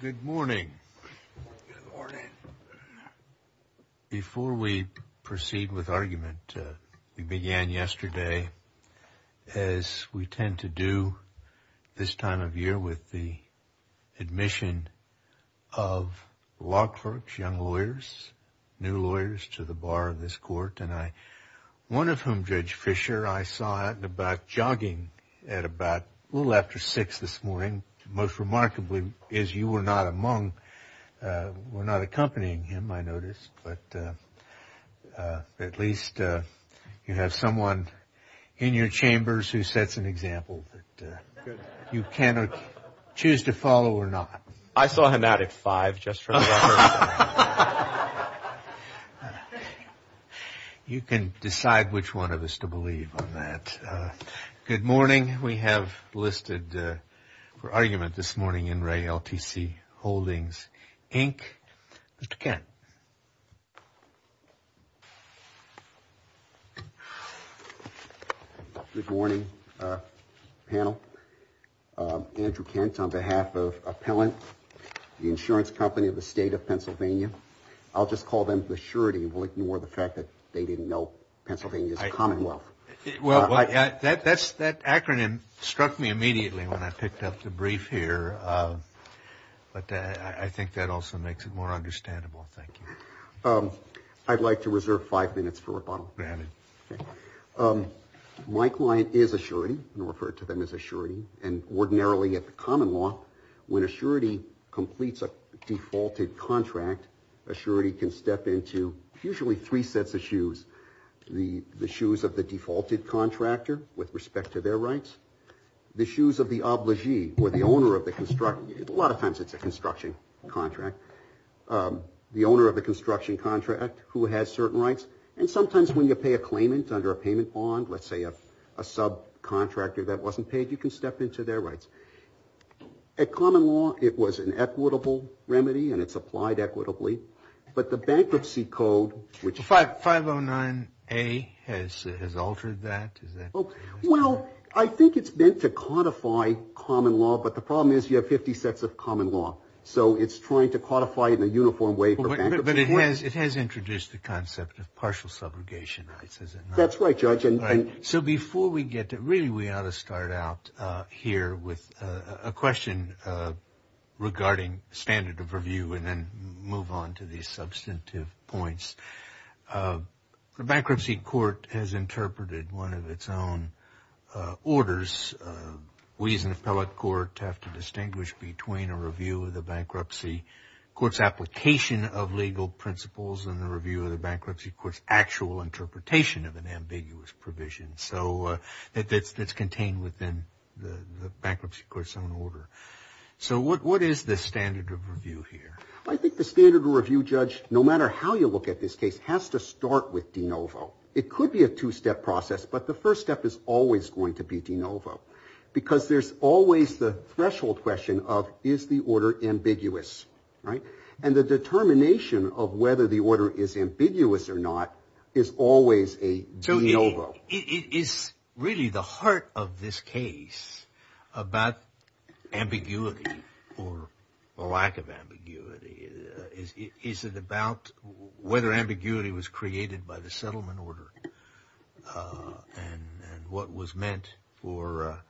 Good morning. Before we proceed with argument, we began yesterday as we tend to do this time of year with the admission of law clerks, young lawyers, new lawyers to the bar of this court and I, one of whom, Judge Fisher, I saw at the is you were not among, were not accompanying him, I noticed, but at least you have someone in your chambers who sets an example that you cannot choose to follow or not. I saw him out at five just for the record. You can decide which one of us to believe on that. Good morning. We have listed for Re LTC Holdings, Inc. Mr. Kent. Good morning, panel. Andrew Kent on behalf of Appellant, the insurance company of the state of Pennsylvania. I'll just call them the surety more the fact that they didn't know Pennsylvania's commonwealth. Well, that acronym struck me immediately when I picked up the brief here, but I think that also makes it more understandable. Thank you. I'd like to reserve five minutes for rebuttal. Granted. My client is a surety. I'm going to refer to them as a surety and ordinarily at the common law, when a surety completes a defaulted contract, a surety can step into usually three sets of shoes, the shoes of the defaulted contractor with respect to their rights, the shoes of the obligee or the owner of the construction, a lot of times it's a construction contract, the owner of the construction contract who has certain rights, and sometimes when you pay a claimant under a payment bond, let's say a subcontractor that wasn't paid, you can step into their rights. At common law, it was an equitable remedy and it's applied equitably, but the bankruptcy code... 509A has altered that, is that... Well, I think it's meant to codify common law, but the problem is you have 50 sets of common law, so it's trying to codify it in a uniform way for bankruptcy... But it has introduced the concept of partial subrogation rights, has it not? That's right, Judge. All right. So before we get to... Really, we ought to start out here with a question regarding standard of review and then move on to the substantive points. The Bankruptcy Court has interpreted one of its own orders. We as an appellate court have to distinguish between a review of the Bankruptcy Court's application of legal principles and the review of the Bankruptcy Court's actual interpretation of an ambiguous provision. So that's contained within the Bankruptcy Court's own order. So what is the standard of review here? I think the standard of review, Judge, no matter how you look at this case, has to start with de novo. It could be a two-step process, but the first step is always going to be de novo, because there's always the threshold question of, is the order ambiguous, right? And the determination of whether the order is ambiguous or not is always a de novo. Is really the heart of this case about ambiguity or a lack of ambiguity? Is it about whether ambiguity was created by the settlement order and what was meant for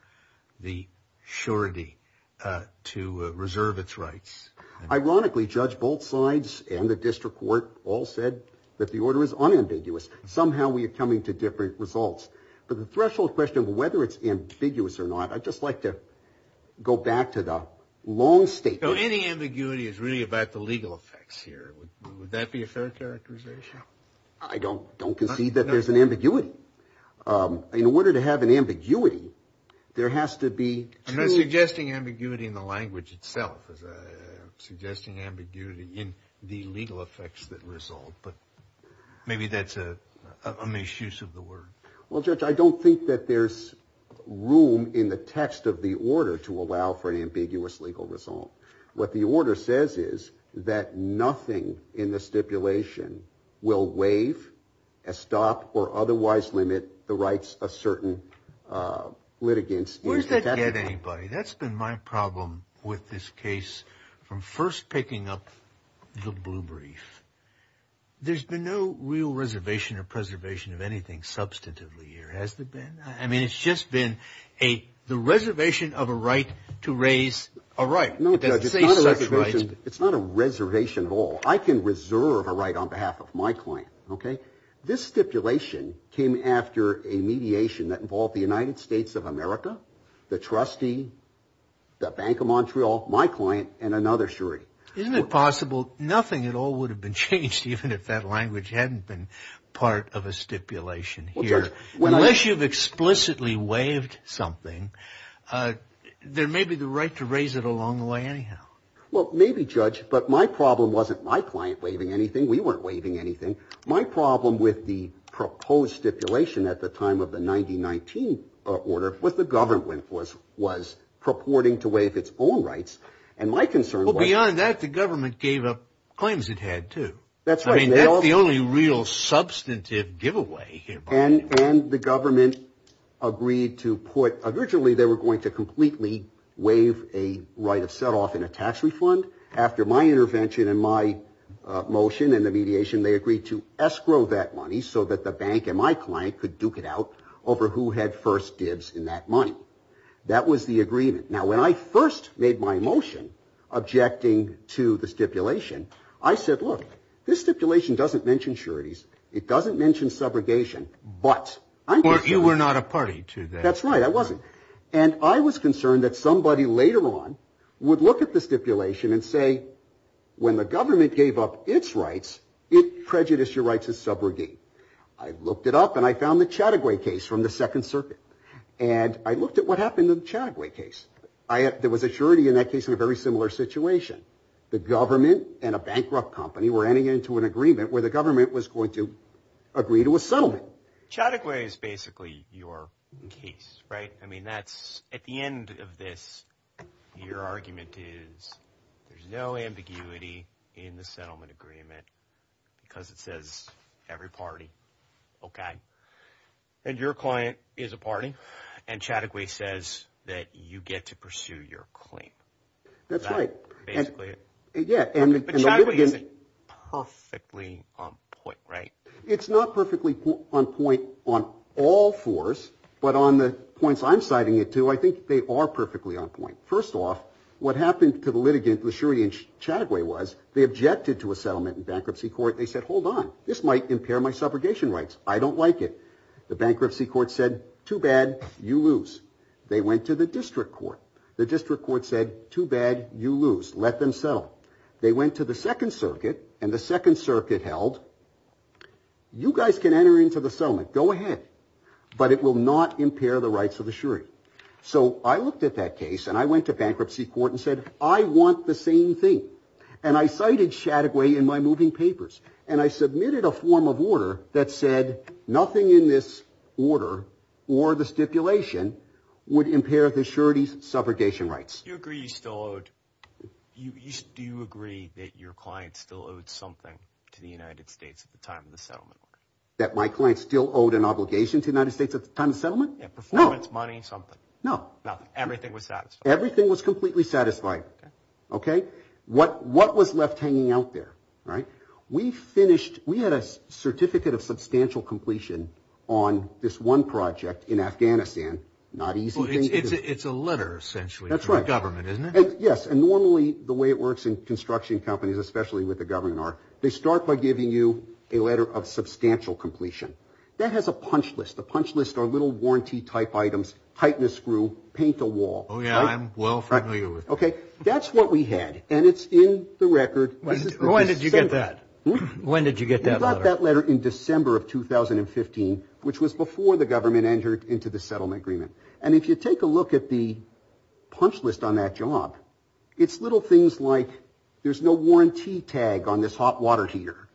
the surety to reserve its rights? Ironically, Judge, both sides and the district court all said that the order is unambiguous. Somehow we are coming to different results. But the threshold question of whether it's ambiguous or not, I'd just like to go back to the long statement. So any ambiguity is really about the legal effects here. Would that be a fair characterization? I don't concede that there's an ambiguity. In order to have an ambiguity, there has to be two... I'm not suggesting ambiguity in the language itself. I'm suggesting ambiguity in the legal effects that result. But maybe that's a misuse of the word. Well, Judge, I don't think that there's room in the text of the order to allow for an ambiguous legal result. What the order says is that nothing in the stipulation will waive, stop, or otherwise limit the rights of certain litigants. Where does that get anybody? That's been my problem with this case from first picking up the blue brief. There's been no real reservation or preservation of anything substantively here, has there been? I mean, it's just been the reservation of a right to raise a right. It's not a reservation at all. I can reserve a right on behalf of my client. This stipulation came after a mediation that involved the United States of America, the trustee, the Bank of Montreal, my client, and another surety. Isn't it possible nothing at all would have been changed even if that language hadn't been part of a stipulation here? Unless you've explicitly waived something, there may be the right to raise it along the way anyhow. Well, maybe, Judge, but my problem wasn't my client waiving anything, we weren't waiving anything. My problem with the proposed stipulation at the time of the 1919 order was the government was purporting to waive its own rights, and my concern was... Well, beyond that, the government gave up claims it had, too. That's right. I mean, that's the only real substantive giveaway here. And the government agreed to put... Originally, they were going to completely waive a right of set-off in a tax refund. After my intervention and my motion and the mediation, they agreed to escrow that money so that the bank and my client could duke it out over who had first dibs in that money. That was the agreement. Now, when I first made my motion objecting to the stipulation, I said, look, this stipulation doesn't mention sureties. It doesn't mention subrogation, but... Or you were not a party to that. That's right, I wasn't. And I was concerned that somebody later on would look at the stipulation and say, when the government gave up its rights, it prejudiced your rights as subrogate. I looked it up, and I found the Chattagway case from the Second Circuit. And I looked at what happened to the Chattagway case. There was a surety in that case in a very similar situation. The government and a bankrupt company were heading into an agreement where the government was going to agree to a settlement. Chattagway is basically your case, right? I mean, that's... At the end of this, your argument is there's no ambiguity in the settlement agreement because it says every party, okay? And your client is a party, and Chattagway says that you get to pursue your claim. That's right. Basically. Yeah, and... But Chattagway isn't perfectly on point, right? It's not perfectly on point on all fours, but on the points I'm citing it to, I think they are perfectly on point. First off, what happened to the litigant, the surety in Chattagway, was they objected to a settlement in bankruptcy court. They said, hold on. This might impair my subrogation rights. I don't like it. The bankruptcy court said, too bad, you lose. They went to the district court. The district court said, too bad, you lose. Let them settle. They went to the second circuit, and the second circuit held, you guys can enter into the settlement. Go ahead. But it will not impair the rights of the surety. So I looked at that case, and I went to bankruptcy court and said, I want the same thing. And I cited Chattagway in my moving papers, and I submitted a form of order that said nothing in this order, or the stipulation, would impair the surety's subrogation rights. Do you agree you still owed, do you agree that your client still owed something to the United States at the time of the settlement? That my client still owed an obligation to the United States at the time of the settlement? Yeah, performance, money, something. No. Nothing. Everything was satisfied. Everything was completely satisfied. Okay. Okay? What was left hanging out there, right? We finished, we had a certificate of substantial completion on this one project in Afghanistan. Not easy thing to do. It's a letter, essentially. That's right. From the government, isn't it? Yes. And normally, the way it works in construction companies, especially with the governor, they start by giving you a letter of substantial completion. That has a punch list. The punch list are little warranty-type items, tighten a screw, paint a wall. Oh, yeah. I'm well familiar with that. Okay. That's what we had. And it's in the record. When did you get that? When did you get that letter? We got that letter in December of 2015, which was before the government entered into the settlement agreement. And if you take a look at the punch list on that job, it's little things like there's no warranty tag on this hot water heater,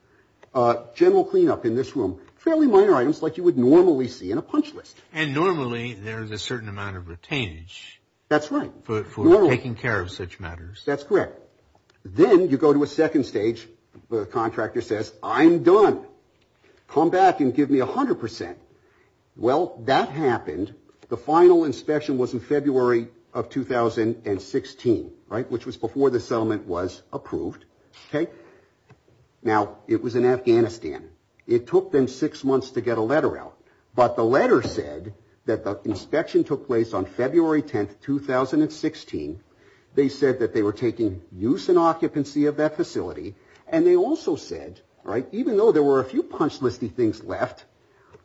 general cleanup in this room, fairly minor items like you would normally see in a punch list. And normally, there's a certain amount of retainage. That's right. For taking care of such matters. That's correct. Then, you go to a second stage, the contractor says, I'm done. Come back and give me 100%. Well, that happened. The final inspection was in February of 2016, right, which was before the settlement was approved. Okay. Now, it was in Afghanistan. It took them six months to get a letter out. But the letter said that the inspection took place on February 10, 2016. They said that they were taking use and occupancy of that facility. And they also said, right, even though there were a few punch list-y things left,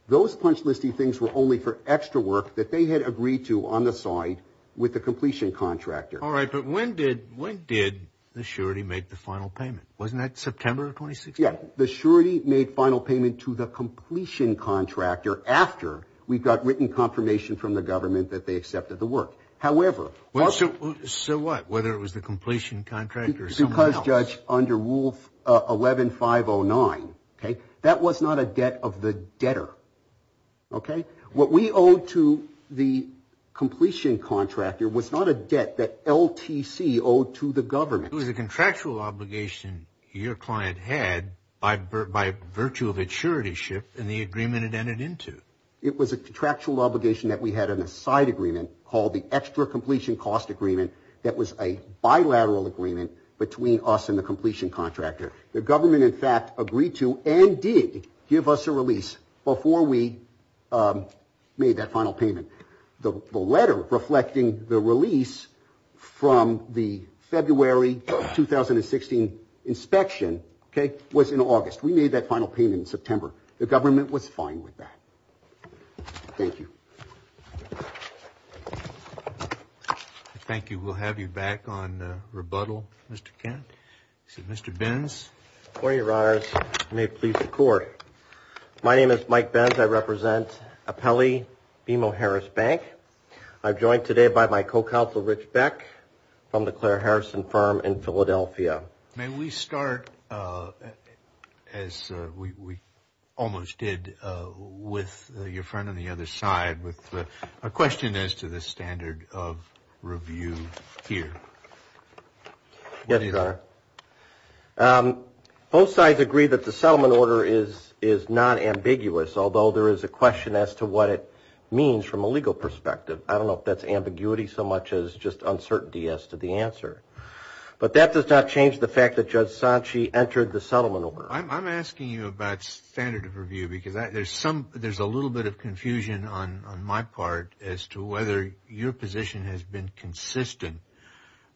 those punch list-y things were only for extra work that they had agreed to on the side with the completion contractor. All right. But when did the surety make the final payment? Wasn't that September of 2016? Yeah. The surety made final payment to the completion contractor after we got written confirmation from the government that they accepted the work. However... So what? Whether it was the completion contractor or someone else? under Rule 11-509, okay, that was not a debt of the debtor, okay? What we owed to the completion contractor was not a debt that LTC owed to the government. It was a contractual obligation your client had by virtue of a surety shift in the agreement it entered into. It was a contractual obligation that we had in a side agreement called the Extra Completion Cost Agreement that was a bilateral agreement between us and the completion contractor. The government, in fact, agreed to and did give us a release before we made that final payment. The letter reflecting the release from the February 2016 inspection, okay, was in August. We made that final payment in September. The government was fine with that. Thank you. Thank you. We'll have you back on rebuttal, Mr. Kent. Mr. Benz. Your Honor, you may please record. My name is Mike Benz. I represent Apelli BMO Harris Bank. I'm joined today by my co-counsel, Rich Beck, from the Claire Harrison firm in Philadelphia. May we start, as we almost did, with your friend on the other side with a question as to the standard of review here? Yes, Your Honor. Both sides agree that the settlement order is non-ambiguous, although there is a question as to what it means from a legal perspective. I don't know if that's ambiguity so much as just uncertainty as to the answer. But that does not change the fact that Judge Sanchi entered the settlement order. I'm asking you about standard of review because there's a little bit of confusion on my part as to whether your position has been consistent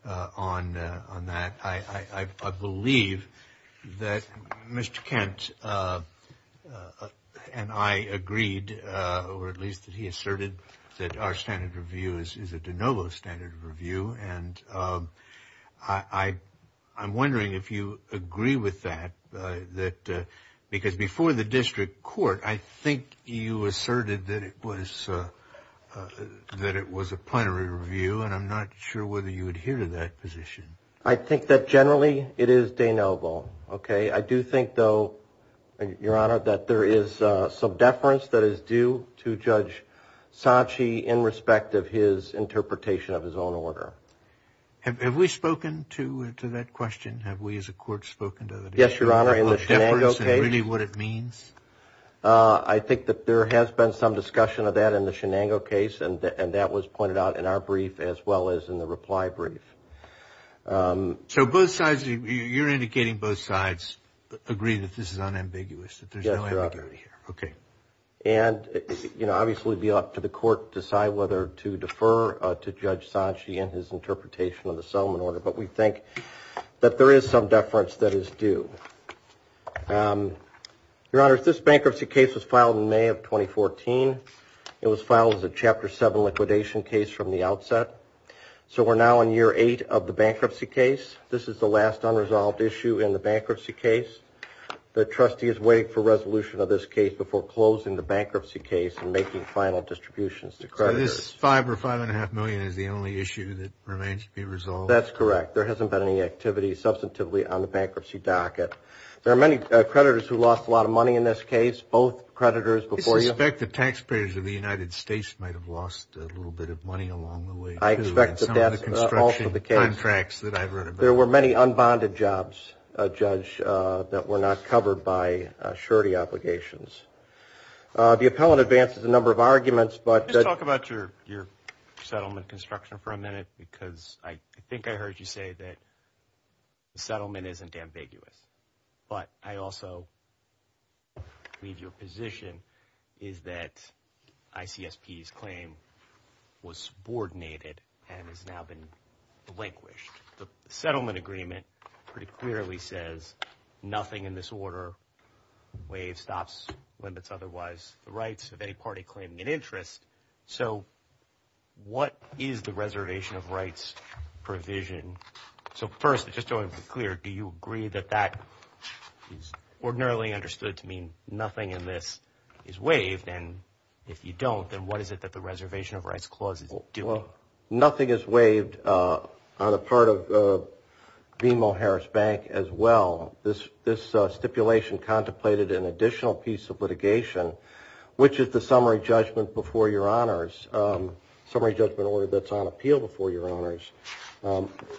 on that. I believe that Mr. Kent and I agreed, or at least that he asserted, that our standard of review, and I'm wondering if you agree with that, because before the district court, I think you asserted that it was a plenary review, and I'm not sure whether you adhere to that position. I think that generally it is de novo. I do think, though, Your Honor, that there is some deference that is due to Judge Sanchi in respect of his interpretation of his own order. Have we spoken to that question? Have we as a court spoken to the difference and really what it means? I think that there has been some discussion of that in the Shenango case, and that was pointed out in our brief as well as in the reply brief. So both sides, you're indicating both sides agree that this is unambiguous, that there's no ambiguity here. Yes, Your Honor. Okay. And, you know, obviously it would be up to the court to decide whether to defer to Judge Sanchi in his interpretation of the settlement order, but we think that there is some deference that is due. Your Honor, this bankruptcy case was filed in May of 2014. It was filed as a Chapter 7 liquidation case from the outset. So we're now in year eight of the bankruptcy case. This is the last unresolved issue in the bankruptcy case. The trustee is waiting for resolution of this case before closing the bankruptcy case and making final distributions to creditors. So this five or five and a half million is the only issue that remains to be resolved? That's correct. There hasn't been any activity substantively on the bankruptcy docket. There are many creditors who lost a lot of money in this case, both creditors before you. I suspect the taxpayers of the United States might have lost a little bit of money along the way, too, in some of the construction contracts that I've read about. There were many unbonded jobs, Judge, that were not covered by surety obligations. The appellant advances a number of arguments, but... Just talk about your settlement construction for a minute, because I think I heard you say that the settlement isn't ambiguous. But I also leave you a position, is that ICSP's claim was subordinated and has now been delinquished. The settlement agreement pretty clearly says nothing in this order waives, stops, limits otherwise the rights of any party claiming an interest. So what is the reservation of rights provision? So first, just to be clear, do you agree that that is ordinarily understood to mean nothing in this is waived, and if you don't, then what is it that the reservation of rights clause is doing? Well, nothing is waived on the part of BMO Harris Bank as well. This stipulation contemplated an additional piece of litigation, which is the summary judgment before your honors, summary judgment order that's on appeal before your honors.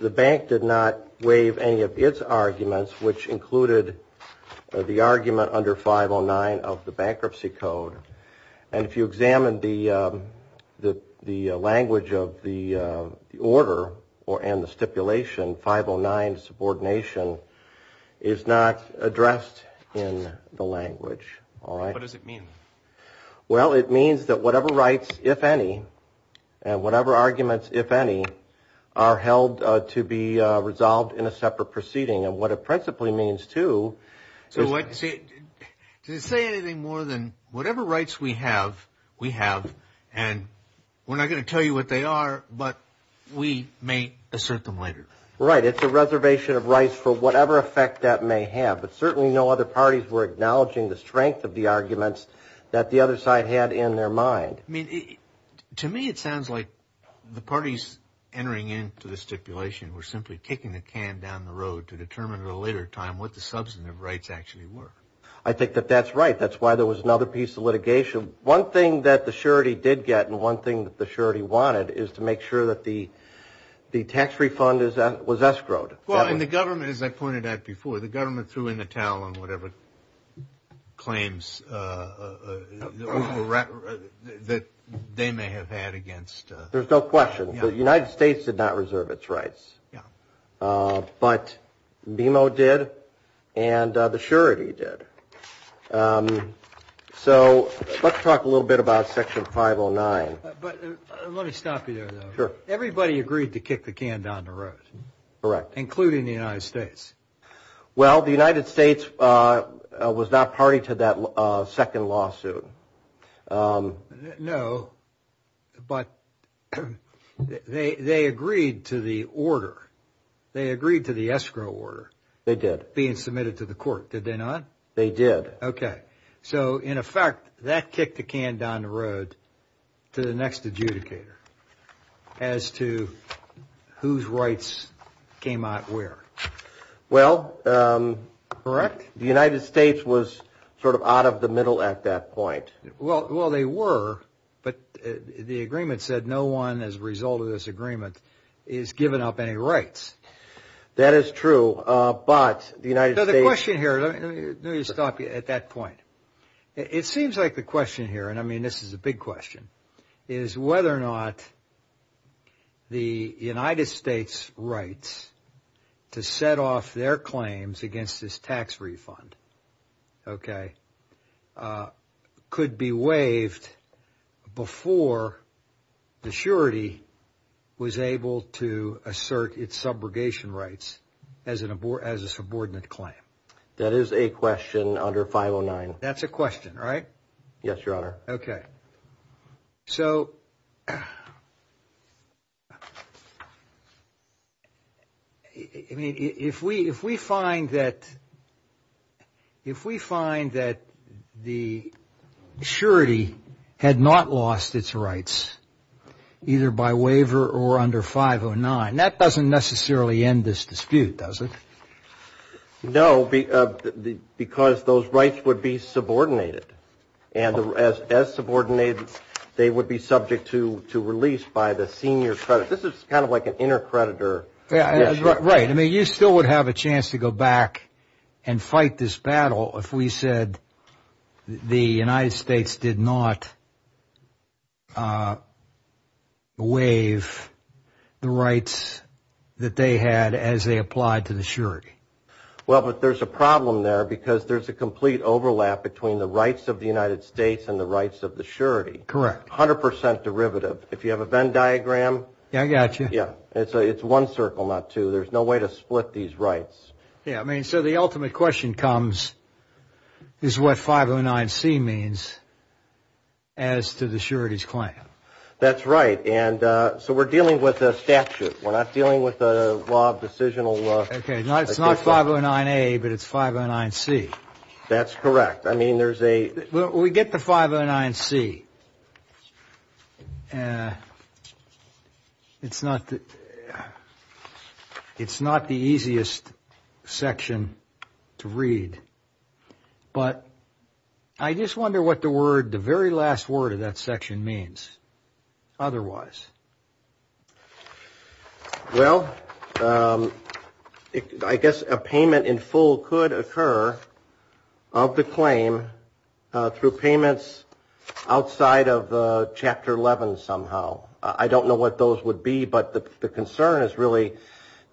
The bank did not waive any of its arguments, which included the argument under 509 of the bankruptcy code. And if you examine the language of the order and the stipulation, 509 subordination is not addressed in the language, all right? What does it mean? Well, it means that whatever rights, if any, and whatever arguments, if any, are held to be resolved in a separate proceeding. And what it principally means, too, is that... So to say anything more than whatever rights we have, we have, and we're not going to tell you what they are, but we may assert them later. Right. It's a reservation of rights for whatever effect that may have, but certainly no other parties were acknowledging the strength of the arguments that the other side had in their mind. I mean, to me, it sounds like the parties entering into the stipulation were simply kicking the can down the road to determine at a later time what the substantive rights actually were. I think that that's right. That's why there was another piece of litigation. One thing that the surety did get and one thing that the surety wanted is to make sure that the tax refund was escrowed. Well, and the government, as I pointed out before, the government threw in the towel on whatever claims that they may have had against... There's no question. The United States did not reserve its rights. But BMO did and the surety did. So let's talk a little bit about Section 509. But let me stop you there, though. Sure. Everybody agreed to kick the can down the road. Correct. Including the United States. Well, the United States was not party to that second lawsuit. No, but they agreed to the order. They agreed to the escrow order. They did. Being submitted to the court. Did they not? They did. Okay. So, in effect, that kicked the can down the road to the next adjudicator as to whose rights came out where. Well... Correct? The United States was sort of out of the middle at that point. Well, they were, but the agreement said no one as a result of this agreement is given up any rights. That is true, but the United States... So the question here... Let me stop you at that point. It seems like the question here, and I mean this is a big question, is whether or not the United States' rights to set off their claims against this tax refund could be waived before the surety was able to assert its subrogation rights as a subordinate claim. That is a question under 509. That's a question, right? Yes, Your Honor. Okay. So, I mean, if we find that the surety had not lost its rights, either by waiver or under 509, that doesn't necessarily end this dispute, does it? No, because those rights would be subordinated, and as subordinated, they would be subject to release by the senior creditor. This is kind of like an inter-creditor... Right. I mean, you still would have a chance to go back and fight this battle if we said the United States did not waive the rights that they had as they applied to the surety. Well, but there's a problem there because there's a complete overlap between the rights of the United States and the rights of the surety. Correct. A hundred percent derivative. If you have a Venn diagram... Yeah, I got you. Yeah. It's one circle, not two. There's no way to split these rights. Yeah, I mean, so the ultimate question comes is what 509C means as to the surety's claim. That's right, and so we're dealing with a statute. We're not dealing with a law of decisional... Okay, it's not 509A, but it's 509C. That's correct. I mean, there's a... We get to 509C. It's not the easiest section to read, but I just wonder what the very last word of that section means otherwise. Well, I guess a payment in full could occur of the claim through payments outside of Chapter 11 somehow. I don't know what those would be, but the concern is really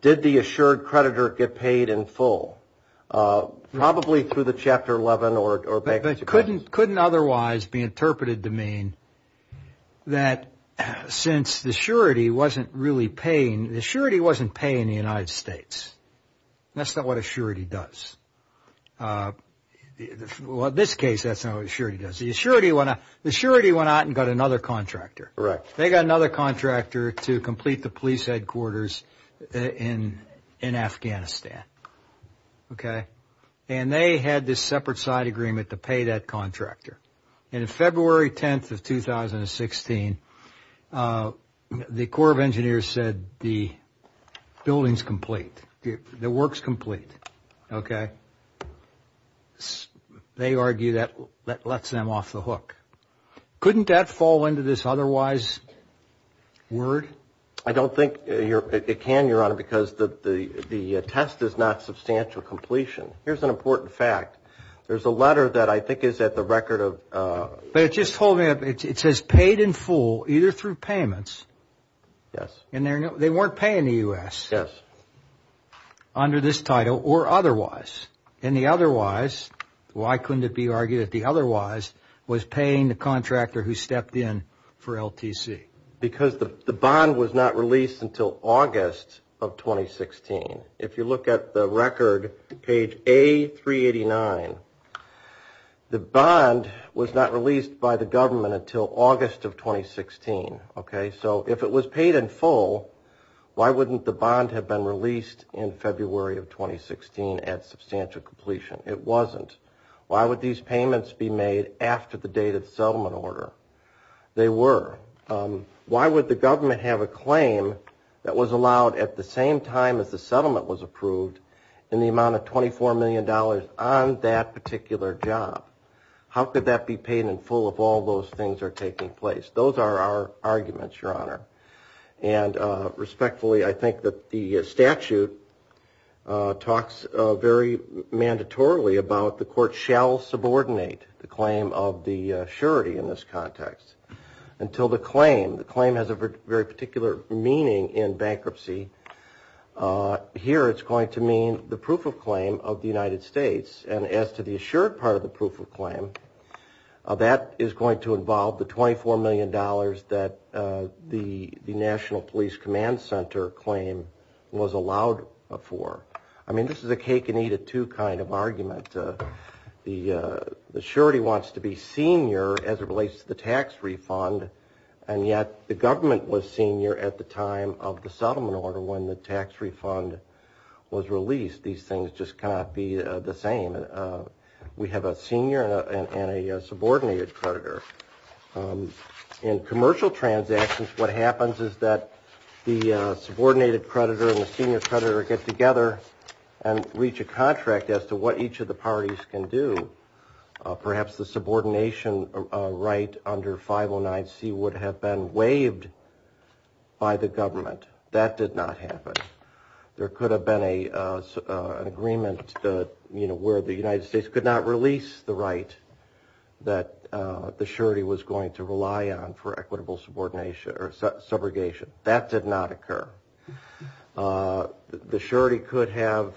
did the assured creditor get paid in full? Probably through the Chapter 11 or bankruptcy claims. It couldn't otherwise be interpreted to mean that since the surety wasn't really paying, the surety wasn't paying the United States. That's not what a surety does. Well, in this case, that's not what a surety does. The surety went out and got another contractor. Correct. They got another contractor to complete the police headquarters in Afghanistan, okay? And they had this separate side agreement to pay that contractor. And February 10th of 2016, the Corps of Engineers said the building's complete, the work's complete, okay? They argue that lets them off the hook. Couldn't that fall into this otherwise word? I don't think it can, Your Honor, because the test is not substantial completion. Here's an important fact. There's a letter that I think is at the record of ‑‑ But it just told me it says paid in full either through payments. Yes. And they weren't paying the U.S. Yes. Under this title or otherwise. And the otherwise, why couldn't it be argued that the otherwise was paying the contractor who stepped in for LTC? Because the bond was not released until August of 2016. If you look at the record, page A389, the bond was not released by the government until August of 2016, okay? So if it was paid in full, why wouldn't the bond have been released in February of 2016 at substantial completion? It wasn't. Why would these payments be made after the dated settlement order? They were. Why would the government have a claim that was allowed at the same time as the settlement was approved in the amount of $24 million on that particular job? How could that be paid in full if all those things are taking place? Those are our arguments, Your Honor. And respectfully, I think that the statute talks very mandatorily about the court shall subordinate the claim of the surety in this context. Until the claim, the claim has a very particular meaning in bankruptcy, here it's going to mean the proof of claim of the United States. And as to the assured part of the proof of claim, that is going to involve the $24 million that the National Police Command Center claim was allowed for. I mean, this is a cake-and-eat-it-too kind of argument. The surety wants to be senior as it relates to the tax refund, and yet the government was senior at the time of the settlement order when the tax refund was released. These things just cannot be the same. We have a senior and a subordinated creditor. In commercial transactions, what happens is that the subordinated creditor and the senior creditor get together and reach a contract as to what each of the parties can do. Perhaps the subordination right under 509C would have been waived by the government. That did not happen. There could have been an agreement where the United States could not release the right that the surety was going to rely on for equitable subordination or subrogation. That did not occur. The surety could have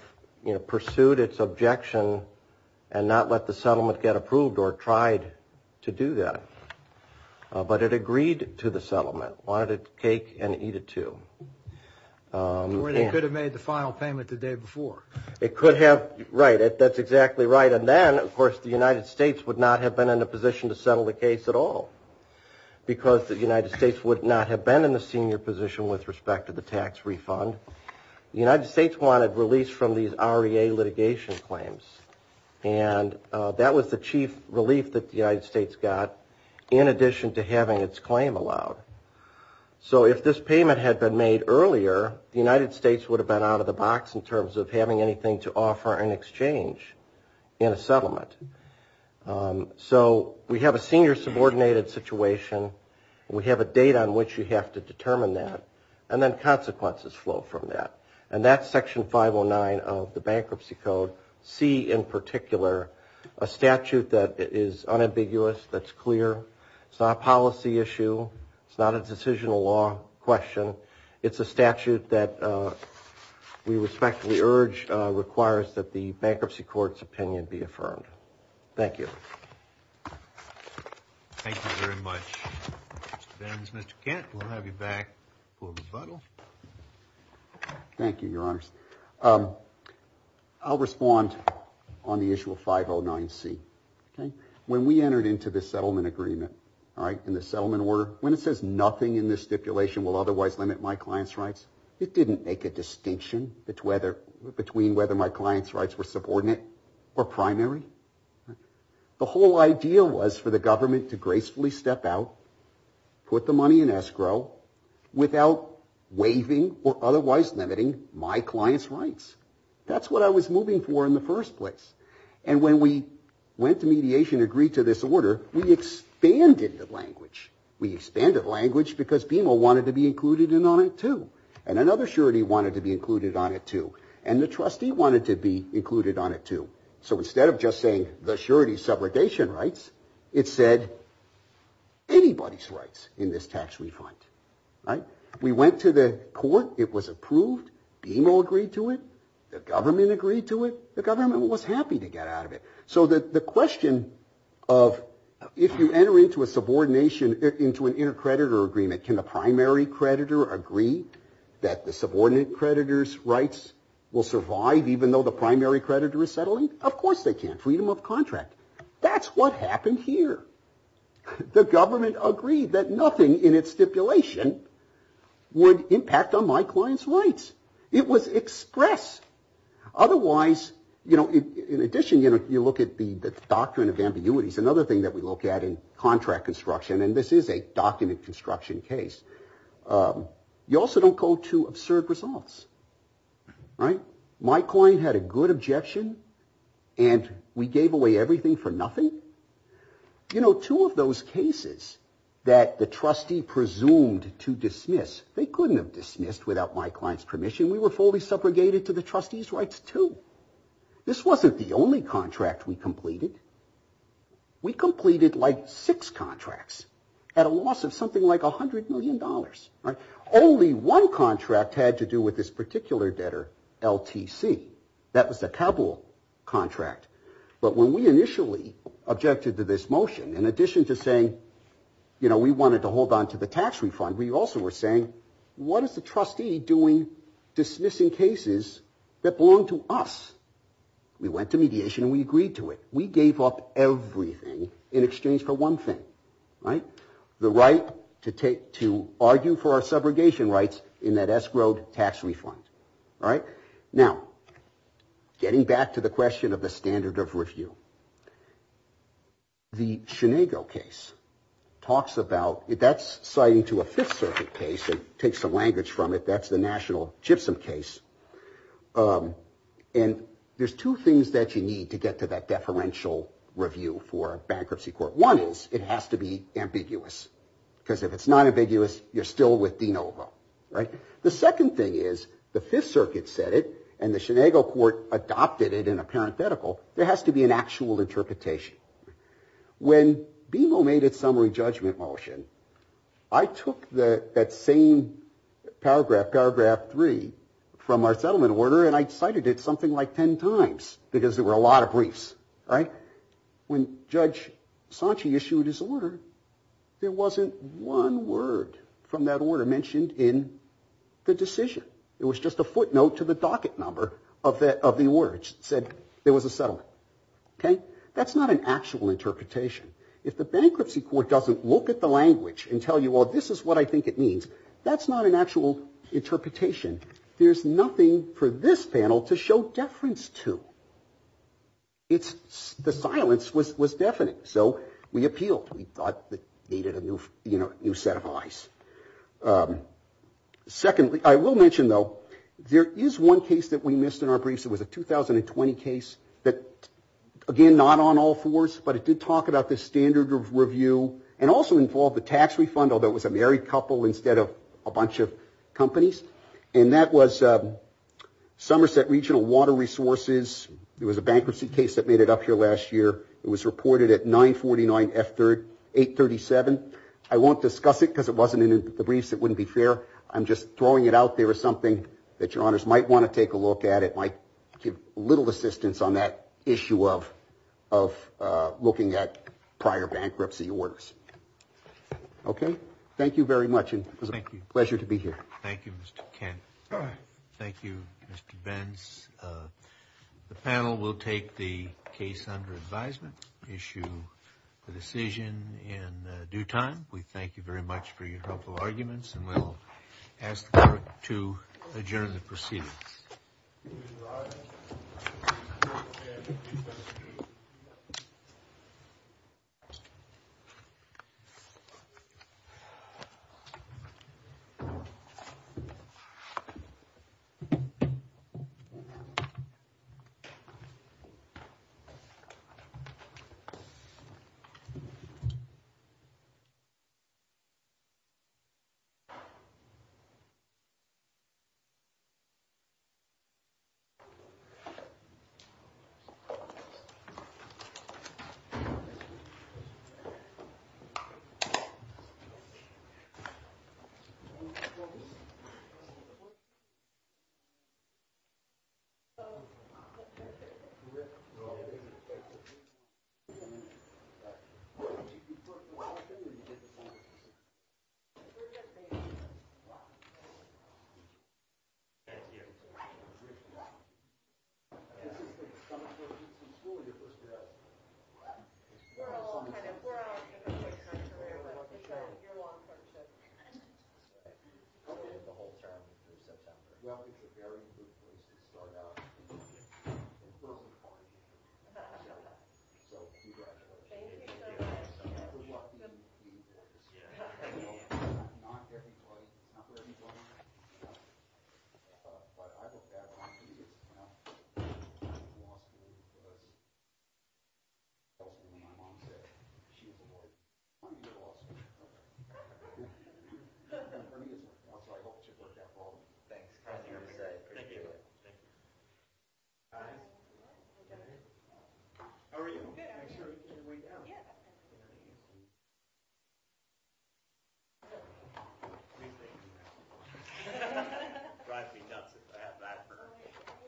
pursued its objection and not let the settlement get approved or tried to do that. But it agreed to the settlement, wanted a cake-and-eat-it-too. The surety could have made the final payment the day before. Right, that's exactly right. And then, of course, the United States would not have been in a position to settle the case at all because the United States would not have been in the senior position with respect to the tax refund. The United States wanted release from these REA litigation claims. And that was the chief relief that the United States got in addition to having its claim allowed. So if this payment had been made earlier, the United States would have been out of the box in terms of having anything to offer in exchange in a settlement. So we have a senior subordinated situation. We have a date on which you have to determine that. And then consequences flow from that. And that's Section 509 of the Bankruptcy Code, C in particular, a statute that is unambiguous, that's clear. It's not a policy issue. It's not a decisional law question. It's a statute that we respectfully urge requires that the bankruptcy court's opinion be affirmed. Thank you. Thank you very much. That ends Mr. Kent. We'll have you back for rebuttal. Thank you, Your Honors. I'll respond on the issue of 509C. When we entered into the settlement agreement, all right, in the settlement order, when it says nothing in this stipulation will otherwise limit my client's rights, it didn't make a distinction between whether my client's rights were subordinate or primary. The whole idea was for the government to gracefully step out, put the money in escrow, without waiving or otherwise limiting my client's rights. That's what I was moving for in the first place. And when we went to mediation and agreed to this order, we expanded the language. We expanded language because BMO wanted to be included on it, too. And another surety wanted to be included on it, too. And the trustee wanted to be included on it, too. So instead of just saying the surety's subrogation rights, it said anybody's rights in this tax refund, right? We went to the court. It was approved. BMO agreed to it. The government agreed to it. The government was happy to get out of it. So the question of if you enter into a subordination, into an intercreditor agreement, can the primary creditor agree that the subordinate creditor's rights will survive, even though the primary creditor is settling? Of course they can. Freedom of contract. That's what happened here. The government agreed that nothing in its stipulation would impact on my client's rights. It was expressed. Otherwise, you know, in addition, you look at the doctrine of ambiguities, another thing that we look at in contract construction, and this is a document construction case. You also don't go to absurd results, right? My client had a good objection, and we gave away everything for nothing. You know, two of those cases that the trustee presumed to dismiss, they couldn't have dismissed without my client's permission. We were fully subrogated to the trustee's rights, too. This wasn't the only contract we completed. We completed like six contracts at a loss of something like $100 million. Only one contract had to do with this particular debtor, LTC. That was a capital contract. But when we initially objected to this motion, in addition to saying, you know, we wanted to hold on to the tax refund, we also were saying, what is the trustee doing dismissing cases that belong to us? We went to mediation and we agreed to it. We gave up everything in exchange for one thing, right? The right to argue for our subrogation rights in that escrowed tax refund. All right. Now, getting back to the question of the standard of review. The Sinego case talks about that's citing to a Fifth Circuit case. It takes some language from it. That's the national gypsum case. And there's two things that you need to get to that deferential review for bankruptcy court. One is it has to be ambiguous. Because if it's not ambiguous, you're still with DeNovo. Right. The second thing is the Fifth Circuit said it and the Sinego court adopted it in a parenthetical. There has to be an actual interpretation. When BMO made its summary judgment motion, I took that same paragraph, paragraph three, from our settlement order and I cited it something like 10 times because there were a lot of briefs. Right. When Judge Sanche issued his order, there wasn't one word from that order mentioned in the decision. It was just a footnote to the docket number of the words that said there was a settlement. Okay. That's not an actual interpretation. If the bankruptcy court doesn't look at the language and tell you, well, this is what I think it means, that's not an actual interpretation. There's nothing for this panel to show deference to. The silence was deafening. So we appealed. We thought it needed a new set of eyes. Secondly, I will mention, though, there is one case that we missed in our briefs. It was a 2020 case that, again, not on all fours, but it did talk about the standard of review and also involved the tax refund, although it was a married couple instead of a bunch of companies. And that was Somerset Regional Water Resources. It was a bankruptcy case that made it up here last year. It was reported at 949F837. I won't discuss it because it wasn't in the briefs. It wouldn't be fair. I'm just throwing it out there as something that your honors might want to take a look at. It might give a little assistance on that issue of looking at prior bankruptcy orders. Okay. Thank you very much. It was a pleasure to be here. Thank you, Mr. Kent. Thank you, Mr. Benz. The panel will take the case under advisement, issue a decision in due time. We thank you very much for your helpful arguments, and we'll ask the clerk to adjourn the proceedings. Please rise. Thank you. Thank you. Thank you. Thank you. Thank you.